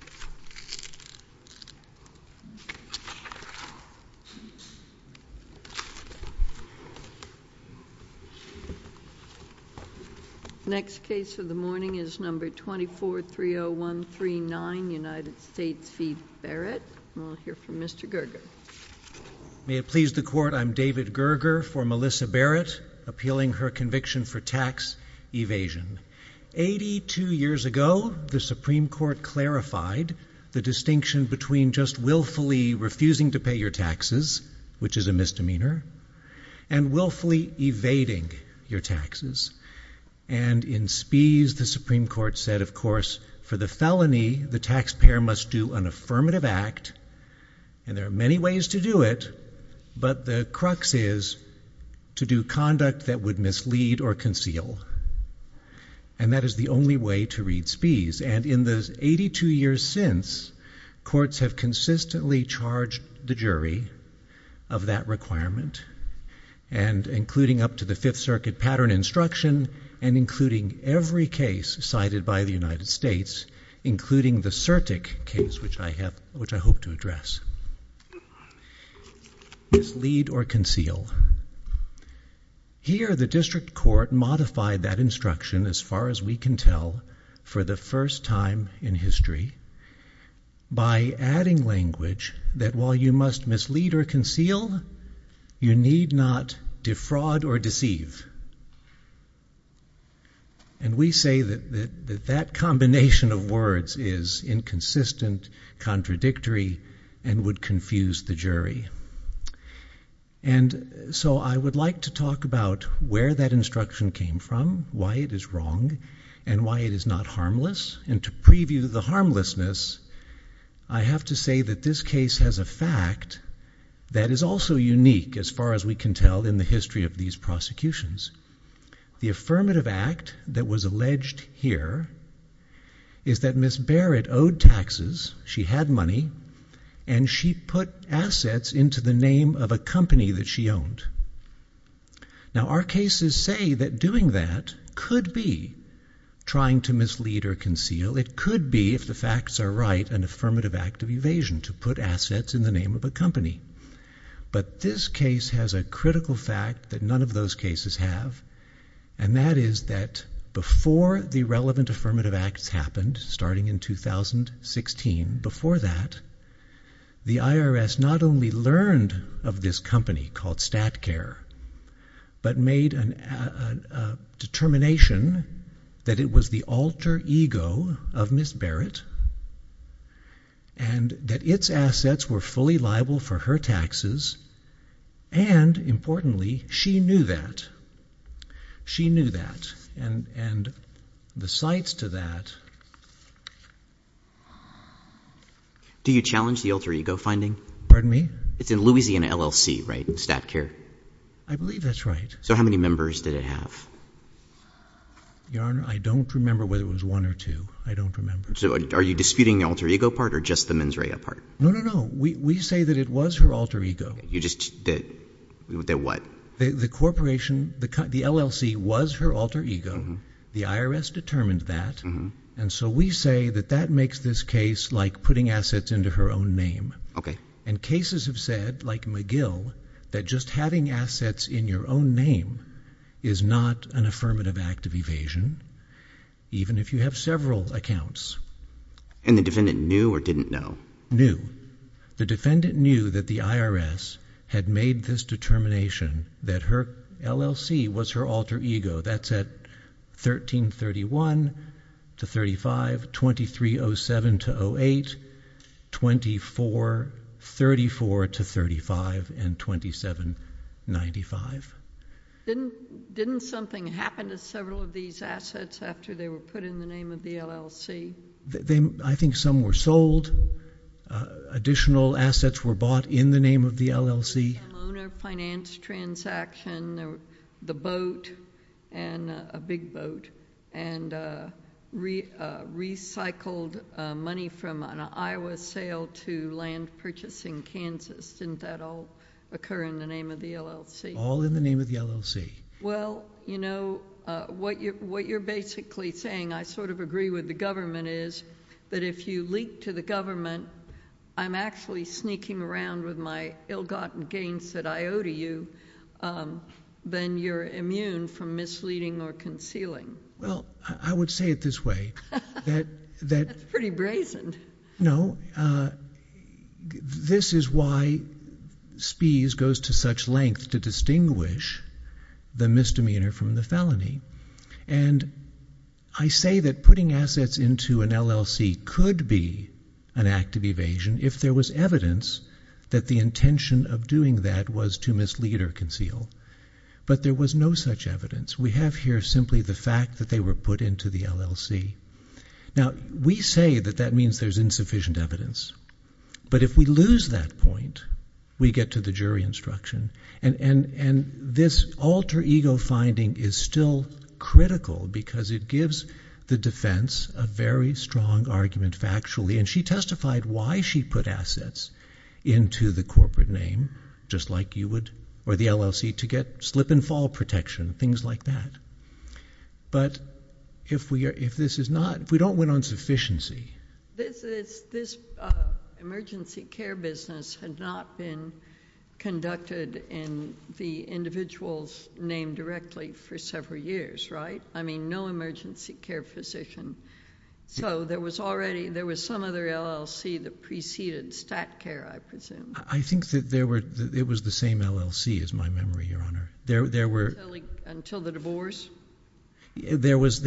I'm David Gerger for Melissa Barrett, appealing her conviction for tax evasion. Eighty-two years ago, the Supreme Court clarified the distinction between just willfully refusing to pay your taxes, which is a misdemeanor, and willfully evading your taxes. And in speech, the Supreme Court said, of course, for the felony, the taxpayer must do an affirmative act. And there are many ways to do it. But the crux is to do conduct that would mislead or conceal. And that is the only way to read spees. And in those 82 years since, courts have consistently charged the jury of that requirement, including up to the Fifth Circuit pattern instruction, and including every case cited by the United States, including the Certic case, which I hope to address. Mislead or conceal. Here the district court modified that instruction, as far as we can tell, for the first time in history, by adding language that while you must mislead or conceal, you need not defraud or deceive. And we say that that combination of words is inconsistent, contradictory, and would confuse the jury. And so I would like to talk about where that instruction came from, why it is wrong, and why it is not harmless. And to preview the harmlessness, I have to say that this case has a fact that is also unique, as far as we can tell, in the history of these prosecutions. The affirmative act that was alleged here is that Ms. Barrett owed taxes, she had money, and she put assets into the name of a company that she owned. Now our cases say that doing that could be trying to mislead or conceal. It could be, if the facts are right, an affirmative act of evasion, to put assets in the name of a company. But this case has a critical fact that none of those cases have, and that is that before the relevant affirmative acts happened, starting in 2016, before that, the IRS not only learned of this company called StatCare, but made a determination that it was the alter ego of Ms. Barrett, and that its assets were fully liable for her taxes, and, importantly, she knew that. She knew that. And the sites to that... Do you challenge the alter ego finding? Pardon me? It's in Louisiana LLC, right? StatCare? I believe that's right. So how many members did it have? Your Honor, I don't remember whether it was one or two. I don't remember. So are you disputing the alter ego part or just the mens rea part? No, no, no. We say that it was her alter ego. You just... That what? The corporation, the LLC was her alter ego. The IRS determined that. And so we say that that makes this case like putting assets into her own name. Okay. And cases have said, like McGill, that just having assets in your own name is not an affirmative act of evasion, even if you have several accounts. And the defendant knew or didn't know? The defendant knew that the IRS had made this determination that her LLC was her alter ego. That's at 1331 to 35, 2307 to 08, 2434 to 35, and 2795. Didn't something happen to several of these assets after they were put in the name of I think some were sold. Additional assets were bought in the name of the LLC. The owner finance transaction, the boat, and a big boat, and recycled money from an Iowa sale to land purchase in Kansas. Didn't that all occur in the name of the LLC? All in the name of the LLC. Well, you know, what you're basically saying, I sort of agree with the government, is that if you leak to the government, I'm actually sneaking around with my ill-gotten gains that I owe to you, then you're immune from misleading or concealing. Well, I would say it this way. That's pretty brazen. No. This is why Spies goes to such length to distinguish the misdemeanor from the felony. And I say that putting assets into an LLC could be an act of evasion if there was evidence that the intention of doing that was to mislead or conceal. But there was no such evidence. We have here simply the fact that they were put into the LLC. Now, we say that that means there's insufficient evidence. But if we lose that point, we get to the jury instruction. And this alter ego finding is still critical because it gives the defense a very strong argument factually. And she testified why she put assets into the corporate name, just like you would, or the LLC, to get slip and fall protection, things like that. But if we don't win on sufficiency. This emergency care business had not been conducted in the individual's name directly for several years, right? I mean, no emergency care physician. So there was some other LLC that preceded StatCare, I presume. I think that it was the same LLC, is my memory, Your Honor. Until the divorce? There was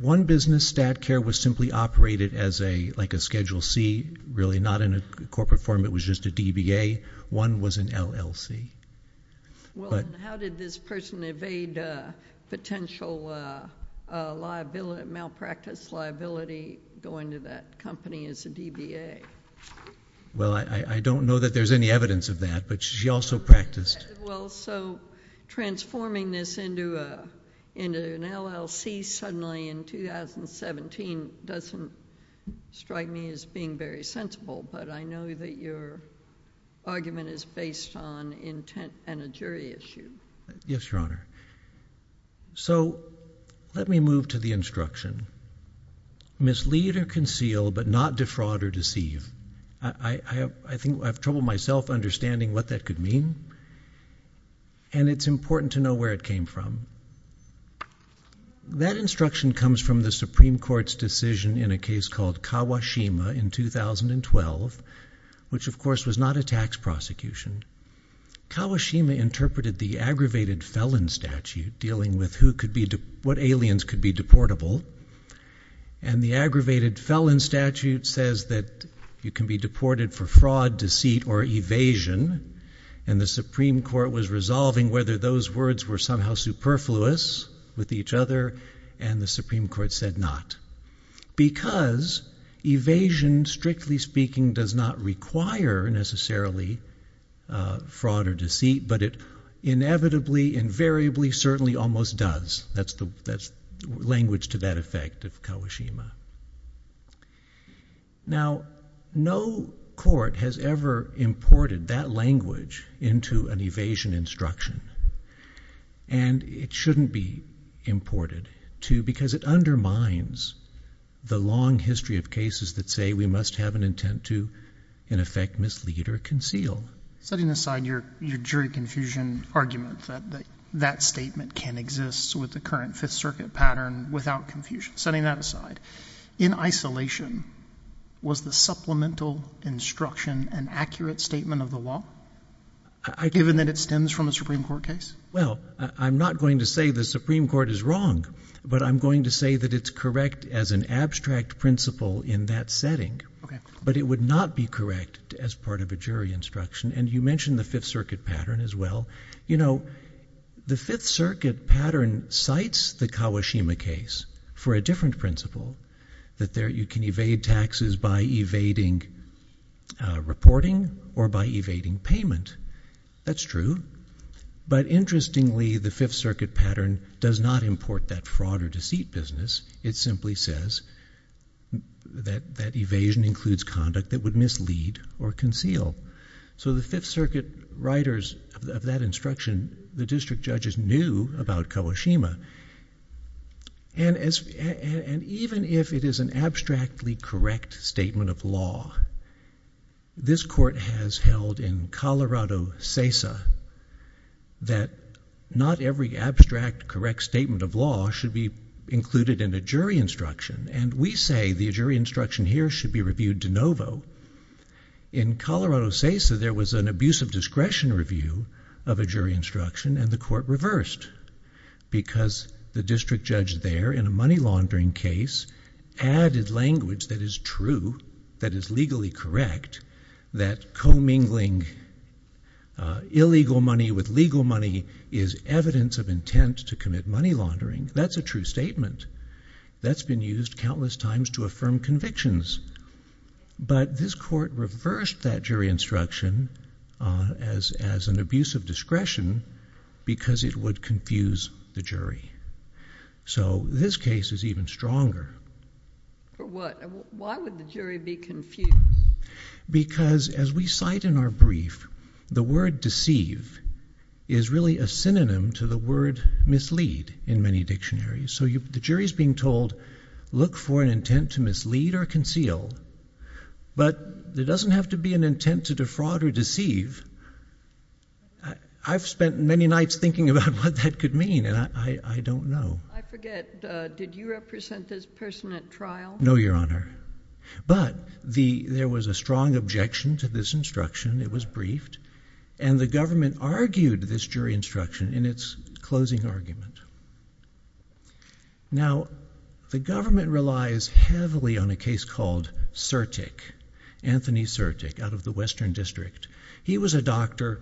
one business, StatCare, was simply operated as like a Schedule C, really not in a corporate form. It was just a DBA. One was an LLC. Well, and how did this person evade potential malpractice liability going to that company as a DBA? Well, I don't know that there's any evidence of that. But she also practiced. Well, so transforming this into an LLC suddenly in 2017 doesn't strike me as being very sensible. But I know that your argument is based on intent and a jury issue. Yes, Your Honor. So let me move to the instruction. Mislead or conceal, but not defraud or deceive. I think I have trouble myself understanding what that could mean. And it's important to know where it came from. That instruction comes from the Supreme Court's decision in a case called Kawashima in 2012, which of course was not a tax prosecution. Kawashima interpreted the aggravated felon statute dealing with what aliens could be deportable. And the aggravated felon statute says that you can be deported for fraud, deceit, or evasion. And the Supreme Court was resolving whether those words were somehow superfluous with each other. And the Supreme Court said not. Because evasion, strictly speaking, does not require necessarily fraud or deceit. But it inevitably, invariably, certainly almost does. That's the language to that effect of Kawashima. Now no court has ever imported that language into an evasion instruction. And it shouldn't be imported, too, because it undermines the long history of cases that say we must have an intent to, in effect, mislead or conceal. Setting aside your jury confusion argument that that statement can exist with the current Fifth Circuit pattern without confusion, setting that aside, in isolation, was the supplemental instruction an accurate statement of the law, given that it stems from a Supreme Court case? Well, I'm not going to say the Supreme Court is wrong. But I'm going to say that it's correct as an abstract principle in that setting. But it would not be correct as part of a jury instruction. And you mentioned the Fifth Circuit pattern as well. You know, the Fifth Circuit pattern cites the Kawashima case for a different principle. That you can evade taxes by evading reporting or by evading payment. That's true. But interestingly, the Fifth Circuit pattern does not import that fraud or cheat business. It simply says that evasion includes conduct that would mislead or conceal. So the Fifth Circuit writers of that instruction, the district judges, knew about Kawashima. And even if it is an abstractly correct statement of law, this Court has held in Colorado CESA that not every abstract correct statement of law should be included in a jury instruction. And we say the jury instruction here should be reviewed de novo. In Colorado CESA, there was an abuse of discretion review of a jury instruction, and the Court reversed. Because the district judge there, in a money laundering case, added language that is true, that is legally correct, that commingling illegal money with legal money is evidence of intent to commit money laundering. That's a true statement. That's been used countless times to affirm convictions. But this Court reversed that jury instruction as an abuse of discretion because it would confuse the jury. So this case is even stronger. For what? Why would the jury be confused? Because as we cite in our brief, the word deceive is really a synonym to the word mislead in many dictionaries. So the jury is being told, look for an intent to mislead or conceal. But there doesn't have to be an intent to defraud or deceive. I've spent many nights thinking about what that could mean, and I don't know. I forget. Did you represent this person at trial? No, Your Honor. But there was a strong objection to this instruction. It was briefed. And the government argued this jury instruction in its closing argument. Now the government relies heavily on a case called Sertic, Anthony Sertic, out of the Western District. He was a doctor,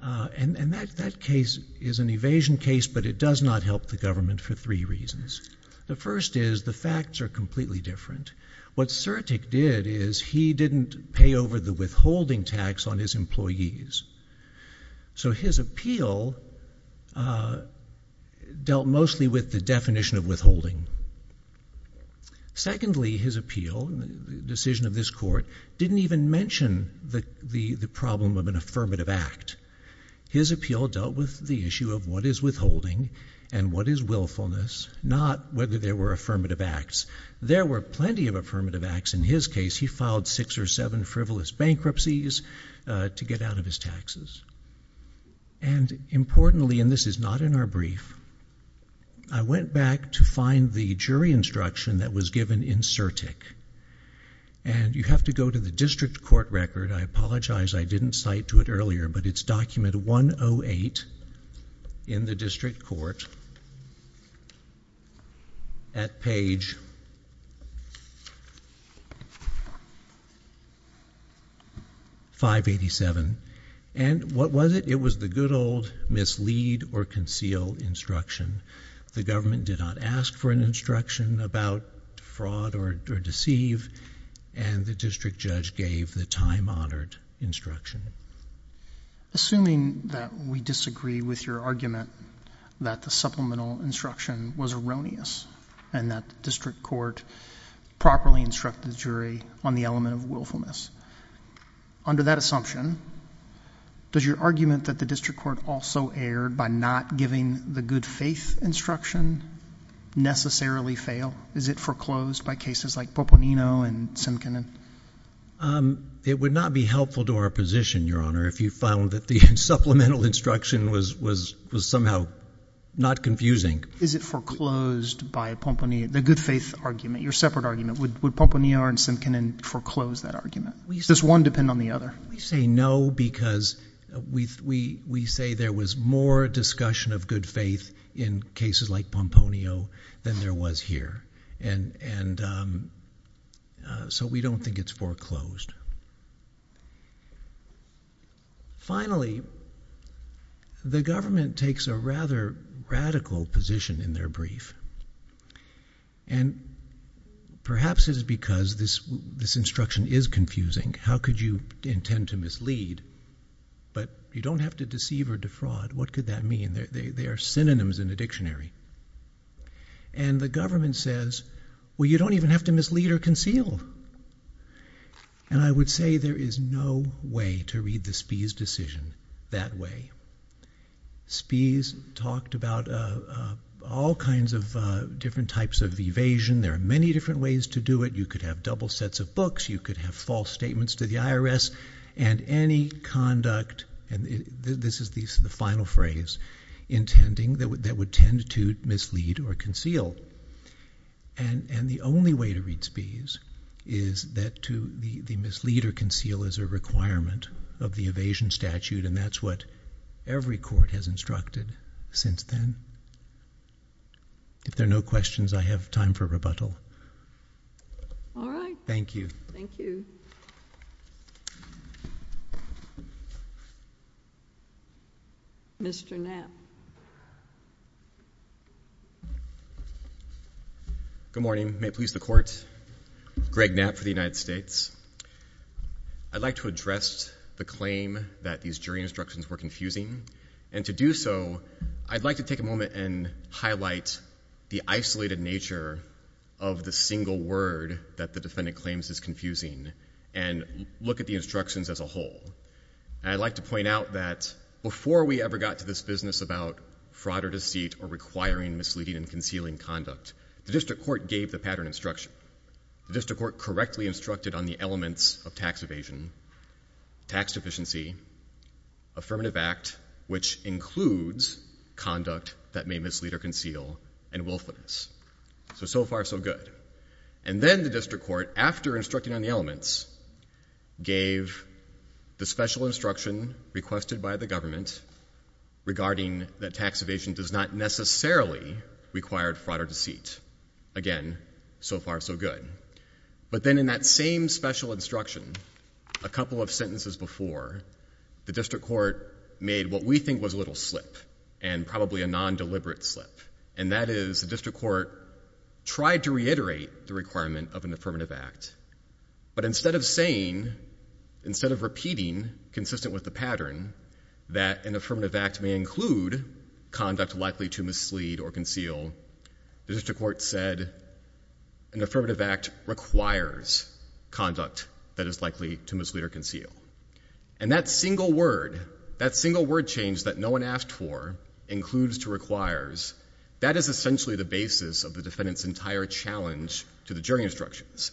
and that case is an evasion case, but it does not help the government for three reasons. The first is the facts are completely different. What Sertic did is he didn't pay over the withholding tax on his employees. So his appeal dealt mostly with the definition of withholding. Secondly, his appeal, the decision of this court, didn't even mention the problem of an affirmative act. His appeal dealt with the issue of what is withholding and what is willfulness, not whether there were affirmative acts. There were plenty of affirmative acts in his case. He filed six or seven frivolous bankruptcies to get out of his taxes. And importantly, and this is not in our brief, I went back to find the jury instruction that was given in Sertic. And you have to go to the district court record. I apologize, I didn't cite to it earlier, but it's document 108 in the district court at page 587. And what was it? It was the good old mislead or conceal instruction. The government did not ask for an instruction about fraud or deceive, and the district judge gave the time-honored instruction. Assuming that we disagree with your argument that the supplemental instruction was erroneous and that the district court properly instructed the jury on the element of willfulness, under that assumption, does your argument that the district court also erred by not giving the good faith instruction necessarily fail? Is it foreclosed by cases like Pomponino and Simkinen? It would not be helpful to our position, Your Honor, if you found that the supplemental instruction was somehow not confusing. Is it foreclosed by Pomponino? The good faith argument, your separate argument, would Pomponino and Simkinen foreclose that Does one depend on the other? We say no because we say there was more discussion of good faith in cases like Pomponino than there was here, and so we don't think it's foreclosed. Finally, the government takes a rather radical position in their brief, and perhaps it's because this instruction is confusing. How could you intend to mislead, but you don't have to deceive or defraud. What could that mean? They are synonyms in the dictionary. And the government says, well, you don't even have to mislead or conceal. And I would say there is no way to read the Spies decision that way. Spies talked about all kinds of different types of evasion. There are many different ways to do it. You could have double sets of books. You could have false statements to the IRS. And any conduct, and this is the final phrase, intending that would tend to mislead or conceal. And the only way to read Spies is that to mislead or conceal is a requirement of the evasion statute, and that's what every court has instructed since then. If there are no questions, I have time for rebuttal. Thank you. Thank you. Mr. Knapp. Good morning. May it please the Court. Greg Knapp for the United States. I'd like to address the claim that these jury instructions were confusing. And to do so, I'd like to take a moment and highlight the isolated nature of the single word that the defendant claims is confusing and look at the instructions as a whole. And I'd like to point out that before we ever got to this business about fraud or deceit or requiring misleading and concealing conduct, the district court gave the pattern instruction. The district court correctly instructed on the elements of tax evasion, tax deficiency, affirmative act, which includes conduct that may mislead or conceal, and willfulness. So, so far, so good. And then the district court, after instructing on the elements, gave the special instruction requested by the government regarding that tax evasion does not necessarily require fraud or deceit. Again, so far, so good. But then in that same special instruction, a couple of sentences before, the district court made what we think was a little slip, and probably a non-deliberate slip. And that is, the district court tried to reiterate the requirement of an affirmative act. But instead of saying, instead of repeating, consistent with the pattern, that an affirmative act may include conduct likely to mislead or conceal, the district court said, an affirmative act requires conduct that is likely to mislead or conceal. And that single word, that single word change that no one asked for, includes to requires, that is essentially the basis of the defendant's entire challenge to the jury instructions.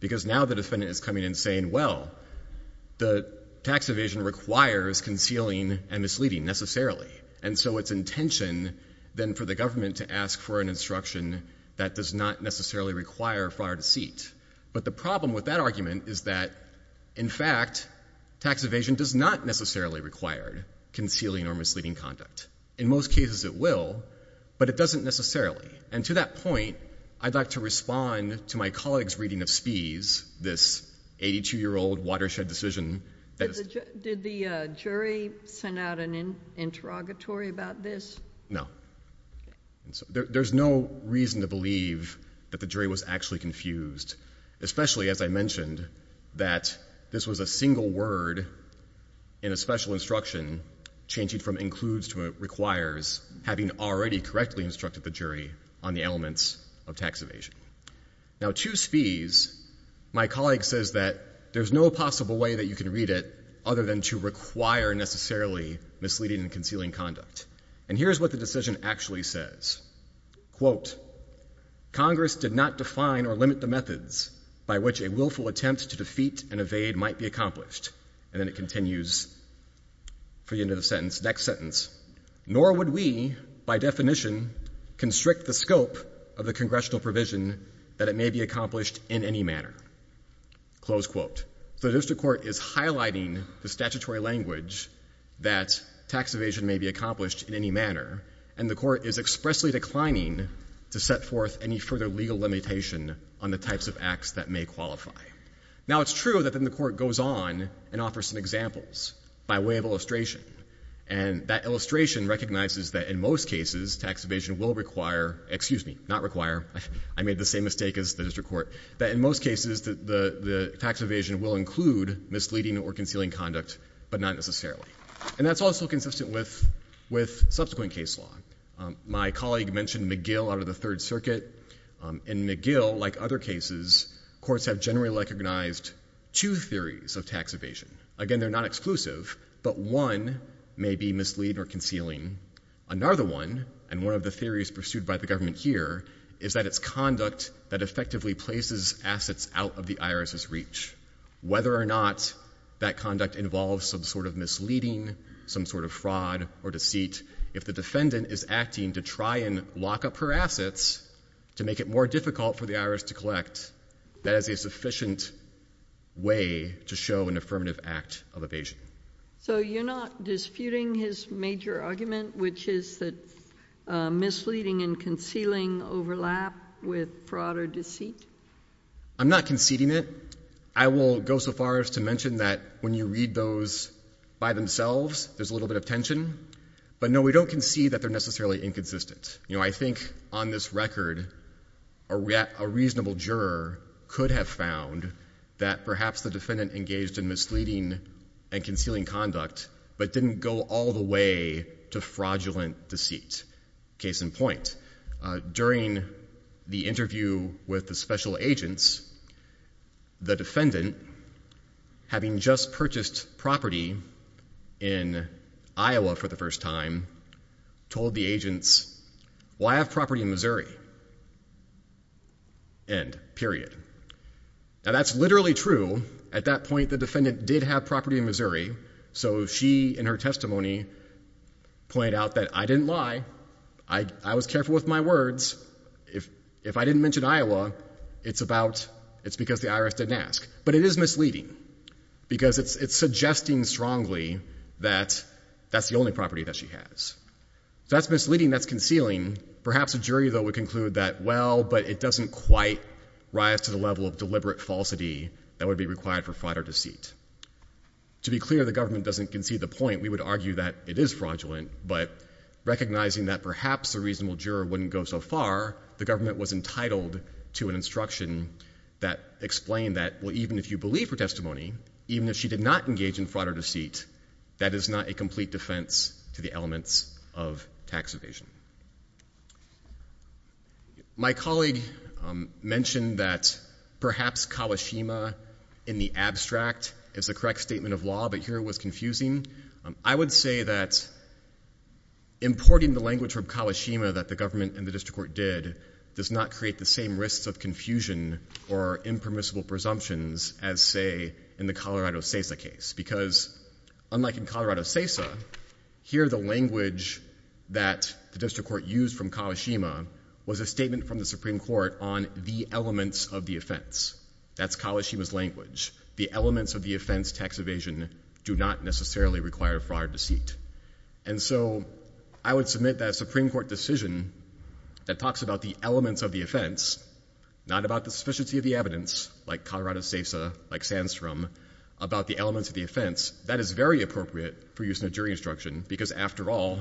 Because now the defendant is coming and saying, well, the tax evasion requires concealing and misleading, necessarily. And so it's intention, then, for the government to ask for an instruction that does not necessarily require fraud or deceit. But the problem with that argument is that, in fact, tax evasion does not necessarily require concealing or misleading conduct. In most cases, it will. But it doesn't necessarily. And to that point, I'd like to respond to my colleague's reading of Spies, this 82-year-old watershed decision. Did the jury send out an interrogatory about this? No. There's no reason to believe that the jury was actually confused, especially, as I mentioned, that this was a single word in a special instruction changing from includes to requires, having already correctly instructed the jury on the elements of tax evasion. Now to Spies, my colleague says that there's no possible way that you can read it other than to require, necessarily, misleading and concealing conduct. And here's what the decision actually says. Quote, Congress did not define or limit the methods by which a willful attempt to defeat and evade might be accomplished. And then it continues for the end of the sentence, next sentence. Nor would we, by definition, constrict the scope of the congressional provision that it may be accomplished in any manner. Close quote. The district court is highlighting the statutory language that tax evasion may be accomplished in any manner. And the court is expressly declining to set forth any further legal limitation on the types of acts that may qualify. Now it's true that then the court goes on and offers some examples by way of illustration. And that illustration recognizes that in most cases tax evasion will require, excuse me, not require, I made the same mistake as the district court, that in most cases the tax evasion will include misleading or concealing conduct, but not necessarily. And that's also consistent with subsequent case law. My colleague mentioned McGill out of the Third Circuit. In McGill, like other cases, courts have generally recognized two theories of tax evasion. Again, they're not exclusive, but one may be misleading or concealing. Another one, and one of the theories pursued by the government here, is that it's conduct that effectively places assets out of the IRS's reach. Whether or not that conduct involves some sort of misleading, some sort of fraud or deceit, if the defendant is acting to try and lock up her assets to make it more difficult for the IRS to collect, that is a sufficient way to show an affirmative act of evasion. So you're not disputing his major argument, which is that misleading and concealing overlap with fraud or deceit? I'm not conceding it. I will go so far as to mention that when you read those by themselves, there's a little bit of tension. But no, we don't concede that they're necessarily inconsistent. You know, I think on this record, a reasonable juror could have found that perhaps the defendant engaged in misleading and concealing conduct, but didn't go all the way to fraudulent deceit, case in point. During the interview with the special agents, the defendant, having just purchased property in Iowa for the first time, told the agents, why have property in Missouri? End. Period. Now that's literally true. At that point, the defendant did have property in Missouri. So she, in her testimony, pointed out that I didn't lie. I was careful with my words. If I didn't mention Iowa, it's because the IRS didn't ask. But it is misleading because it's suggesting strongly that that's the only property that she has. So that's misleading. That's concealing. Perhaps a jury, though, would conclude that, well, but it doesn't quite rise to the level of deliberate falsity that would be required for fraud or deceit. To be clear, the government doesn't concede the point. We would argue that it is fraudulent, but recognizing that perhaps a reasonable juror wouldn't go so far, the government was entitled to an instruction that explained that, well, even if you believe her testimony, even if she did not engage in fraud or deceit, that is not a complete defense to the elements of tax evasion. My colleague mentioned that perhaps Kawashima in the abstract is the correct statement of law, but here it was confusing. I would say that importing the language from Kawashima that the government and the district court did does not create the same risks of confusion or impermissible presumptions as, say, in the Colorado CESA case. Because unlike in Colorado CESA, here the language that the district court used from Kawashima was a statement from the Supreme Court on the elements of the offense. That's Kawashima's language. The elements of the offense tax evasion do not necessarily require fraud or deceit. And so I would submit that a Supreme Court decision that talks about the elements of the offense, not about the sufficiency of the evidence, like Colorado CESA, like Sandstrom, about the elements of the offense, that is very appropriate for using a jury instruction because, after all,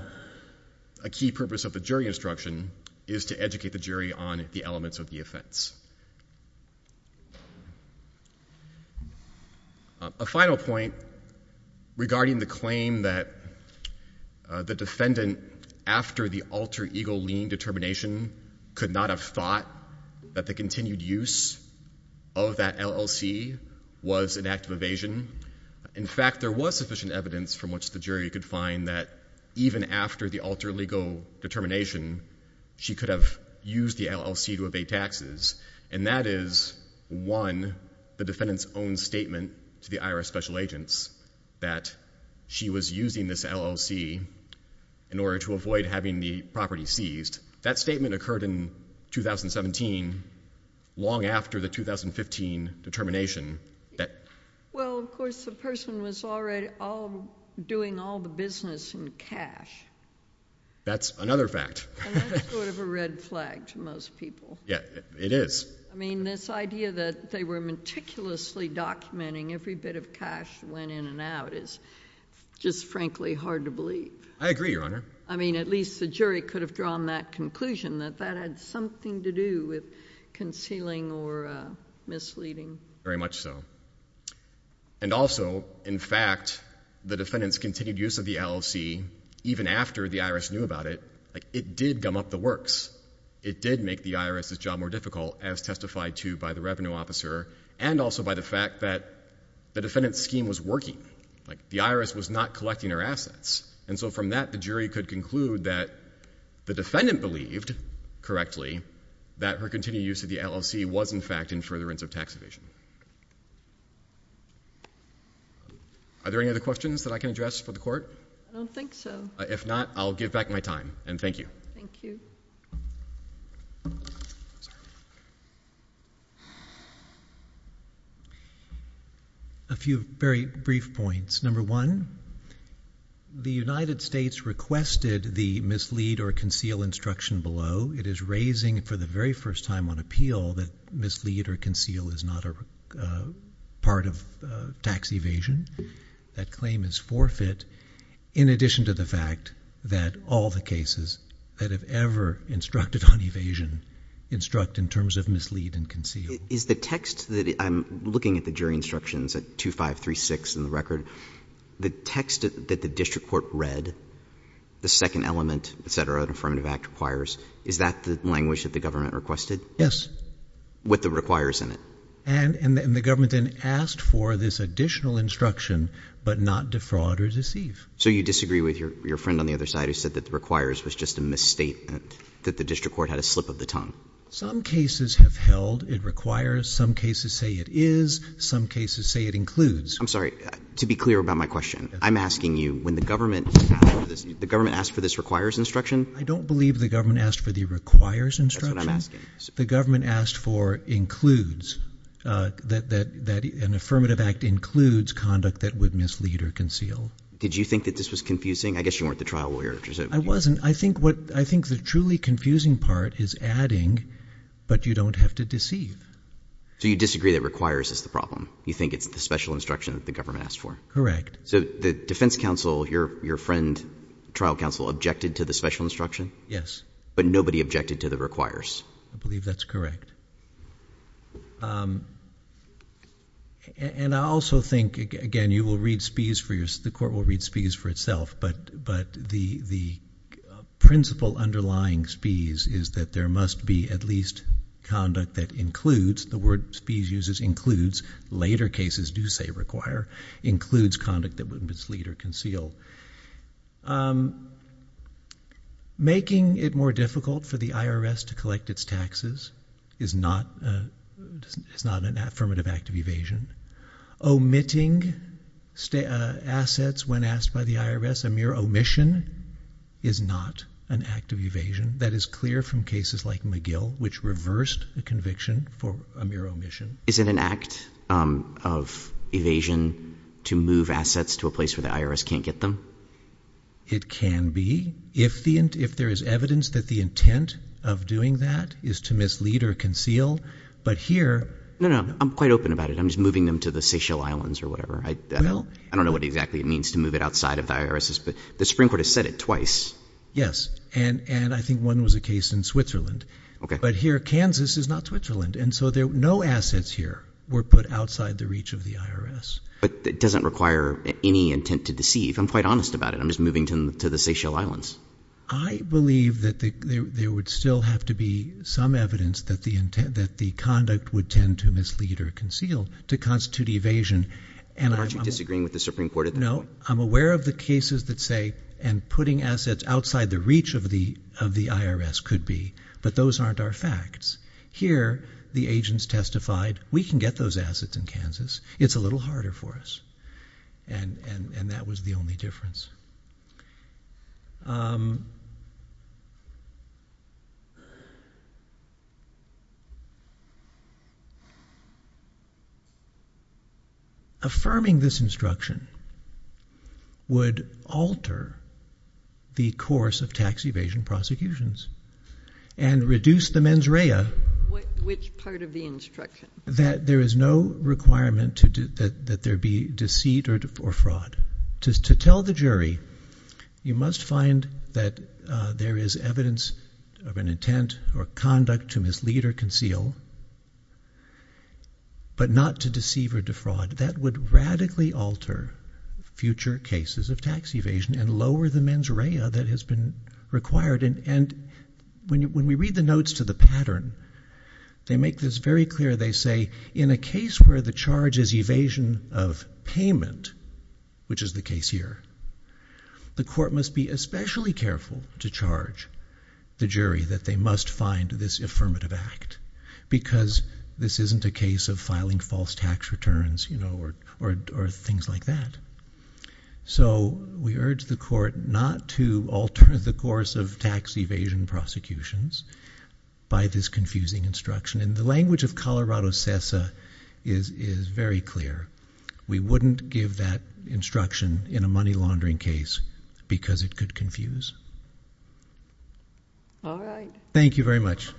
a key purpose of the jury instruction is to educate the jury on the elements of the offense. A final point regarding the claim that the defendant, after the alter ego lien determination, could not have thought that the continued use of that LLC was an act of evasion. In fact, there was sufficient evidence from which the jury could find that even after the alter legal determination, she could have used the LLC to evade taxes. And that is, one, the defendant's own statement to the IRS special agents that she was using this LLC in order to avoid having the property seized. That statement occurred in 2017, long after the 2015 determination. Well, of course, the person was already doing all the business in cash. That's another fact. And that's sort of a red flag to most people. Yeah, it is. I mean, this idea that they were meticulously documenting every bit of cash that went in and out is just, frankly, hard to believe. I agree, Your Honor. I mean, at least the jury could have drawn that conclusion that that had something to do with concealing or misleading. Very much so. And also, in fact, the defendant's continued use of the LLC, even after the IRS knew about it, it did gum up the works. It did make the IRS's job more difficult, as testified to by the revenue officer, and also by the fact that the defendant's scheme was working. Like, the IRS was not collecting her assets. And so from that, the jury could conclude that the defendant believed, correctly, that her continued use of the LLC was, in fact, in furtherance of tax evasion. Are there any other questions that I can address for the Court? I don't think so. If not, I'll give back my time. And thank you. Thank you. I'm sorry. A few very brief points. Number one, the United States requested the mislead or conceal instruction below. It is raising, for the very first time on appeal, that mislead or conceal is not a part of tax evasion. That claim is forfeit, in addition to the fact that all the cases that have ever instructed on evasion instruct in terms of mislead and conceal. Is the text that I'm looking at the jury instructions at 2-5-3-6 in the record, the text that the district court read, the second element, et cetera, that the Affirmative Act requires, is that the language that the government requested? Yes. With the requires in it? And the government then asked for this additional instruction, but not defraud or deceive. So you disagree with your friend on the other side who said that the requires was just a misstatement, that the district court had a slip of the tongue? Some cases have held it requires. Some cases say it is. Some cases say it includes. I'm sorry. To be clear about my question, I'm asking you, when the government asked for this requires instruction? I don't believe the government asked for the requires instruction. That's what I'm asking. The government asked for includes, that an Affirmative Act includes conduct that would mislead or conceal. Did you think that this was confusing? I guess you weren't the trial lawyer. I wasn't. I think the truly confusing part is adding, but you don't have to deceive. So you disagree that requires is the problem? You think it's the special instruction that the government asked for? Correct. So the defense counsel, your friend, trial counsel, objected to the special instruction? Yes. But nobody objected to the requires? I believe that's correct. And I also think, again, you will read Spies for yourself, the court will read Spies for itself, but the principle underlying Spies is that there must be at least conduct that includes, the word Spies uses includes, later cases do say require, includes conduct that would mislead or conceal. Making it more difficult for the IRS to collect its taxes is not an Affirmative Act of evasion. Omitting assets when asked by the IRS, a mere omission, is not an act of evasion. That is clear from cases like McGill, which reversed the conviction for a mere omission. Is it an act of evasion to move assets to a place where the IRS can't get them? It can be, if there is evidence that the intent of doing that is to mislead or conceal. But here... No, no. I'm quite open about it. I'm just moving them to the Seychelles Islands or whatever. I don't know what exactly it means to move it outside of the IRS, but the Supreme Court has said it twice. Yes. And I think one was a case in Switzerland. OK. But here, Kansas is not Switzerland. And so no assets here were put outside the reach of the IRS. But it doesn't require any intent to deceive. I'm quite honest about it. I'm just moving to the Seychelles Islands. I believe that there would still have to be some evidence that the conduct would tend to mislead or conceal to constitute evasion. And aren't you disagreeing with the Supreme Court at that point? No. I'm aware of the cases that say, and putting assets outside the reach of the IRS could be. But those aren't our facts. Here, the agents testified, we can get those assets in Kansas. It's a little harder for us. And that was the only difference. Affirming this instruction would alter the course of tax evasion prosecutions and reduce the mens rea. Which part of the instruction? That there is no requirement that there be deceit or fraud. To tell the jury, you must find that there is evidence of an intent or conduct to mislead or conceal, but not to deceive or defraud. That would radically alter future cases of tax evasion and lower the mens rea that has been required. And when we read the notes to the pattern, they make this very clear. They say, in a case where the charge is evasion of payment, which is the case here, the court must be especially careful to charge the jury that they must find this affirmative act. Because this isn't a case of filing false tax returns or things like that. So we urge the court not to alter the course of tax evasion prosecutions by this confusing instruction. And the language of Colorado CESA is very clear. We wouldn't give that instruction in a money laundering case because it could confuse. All right. Thank you very much.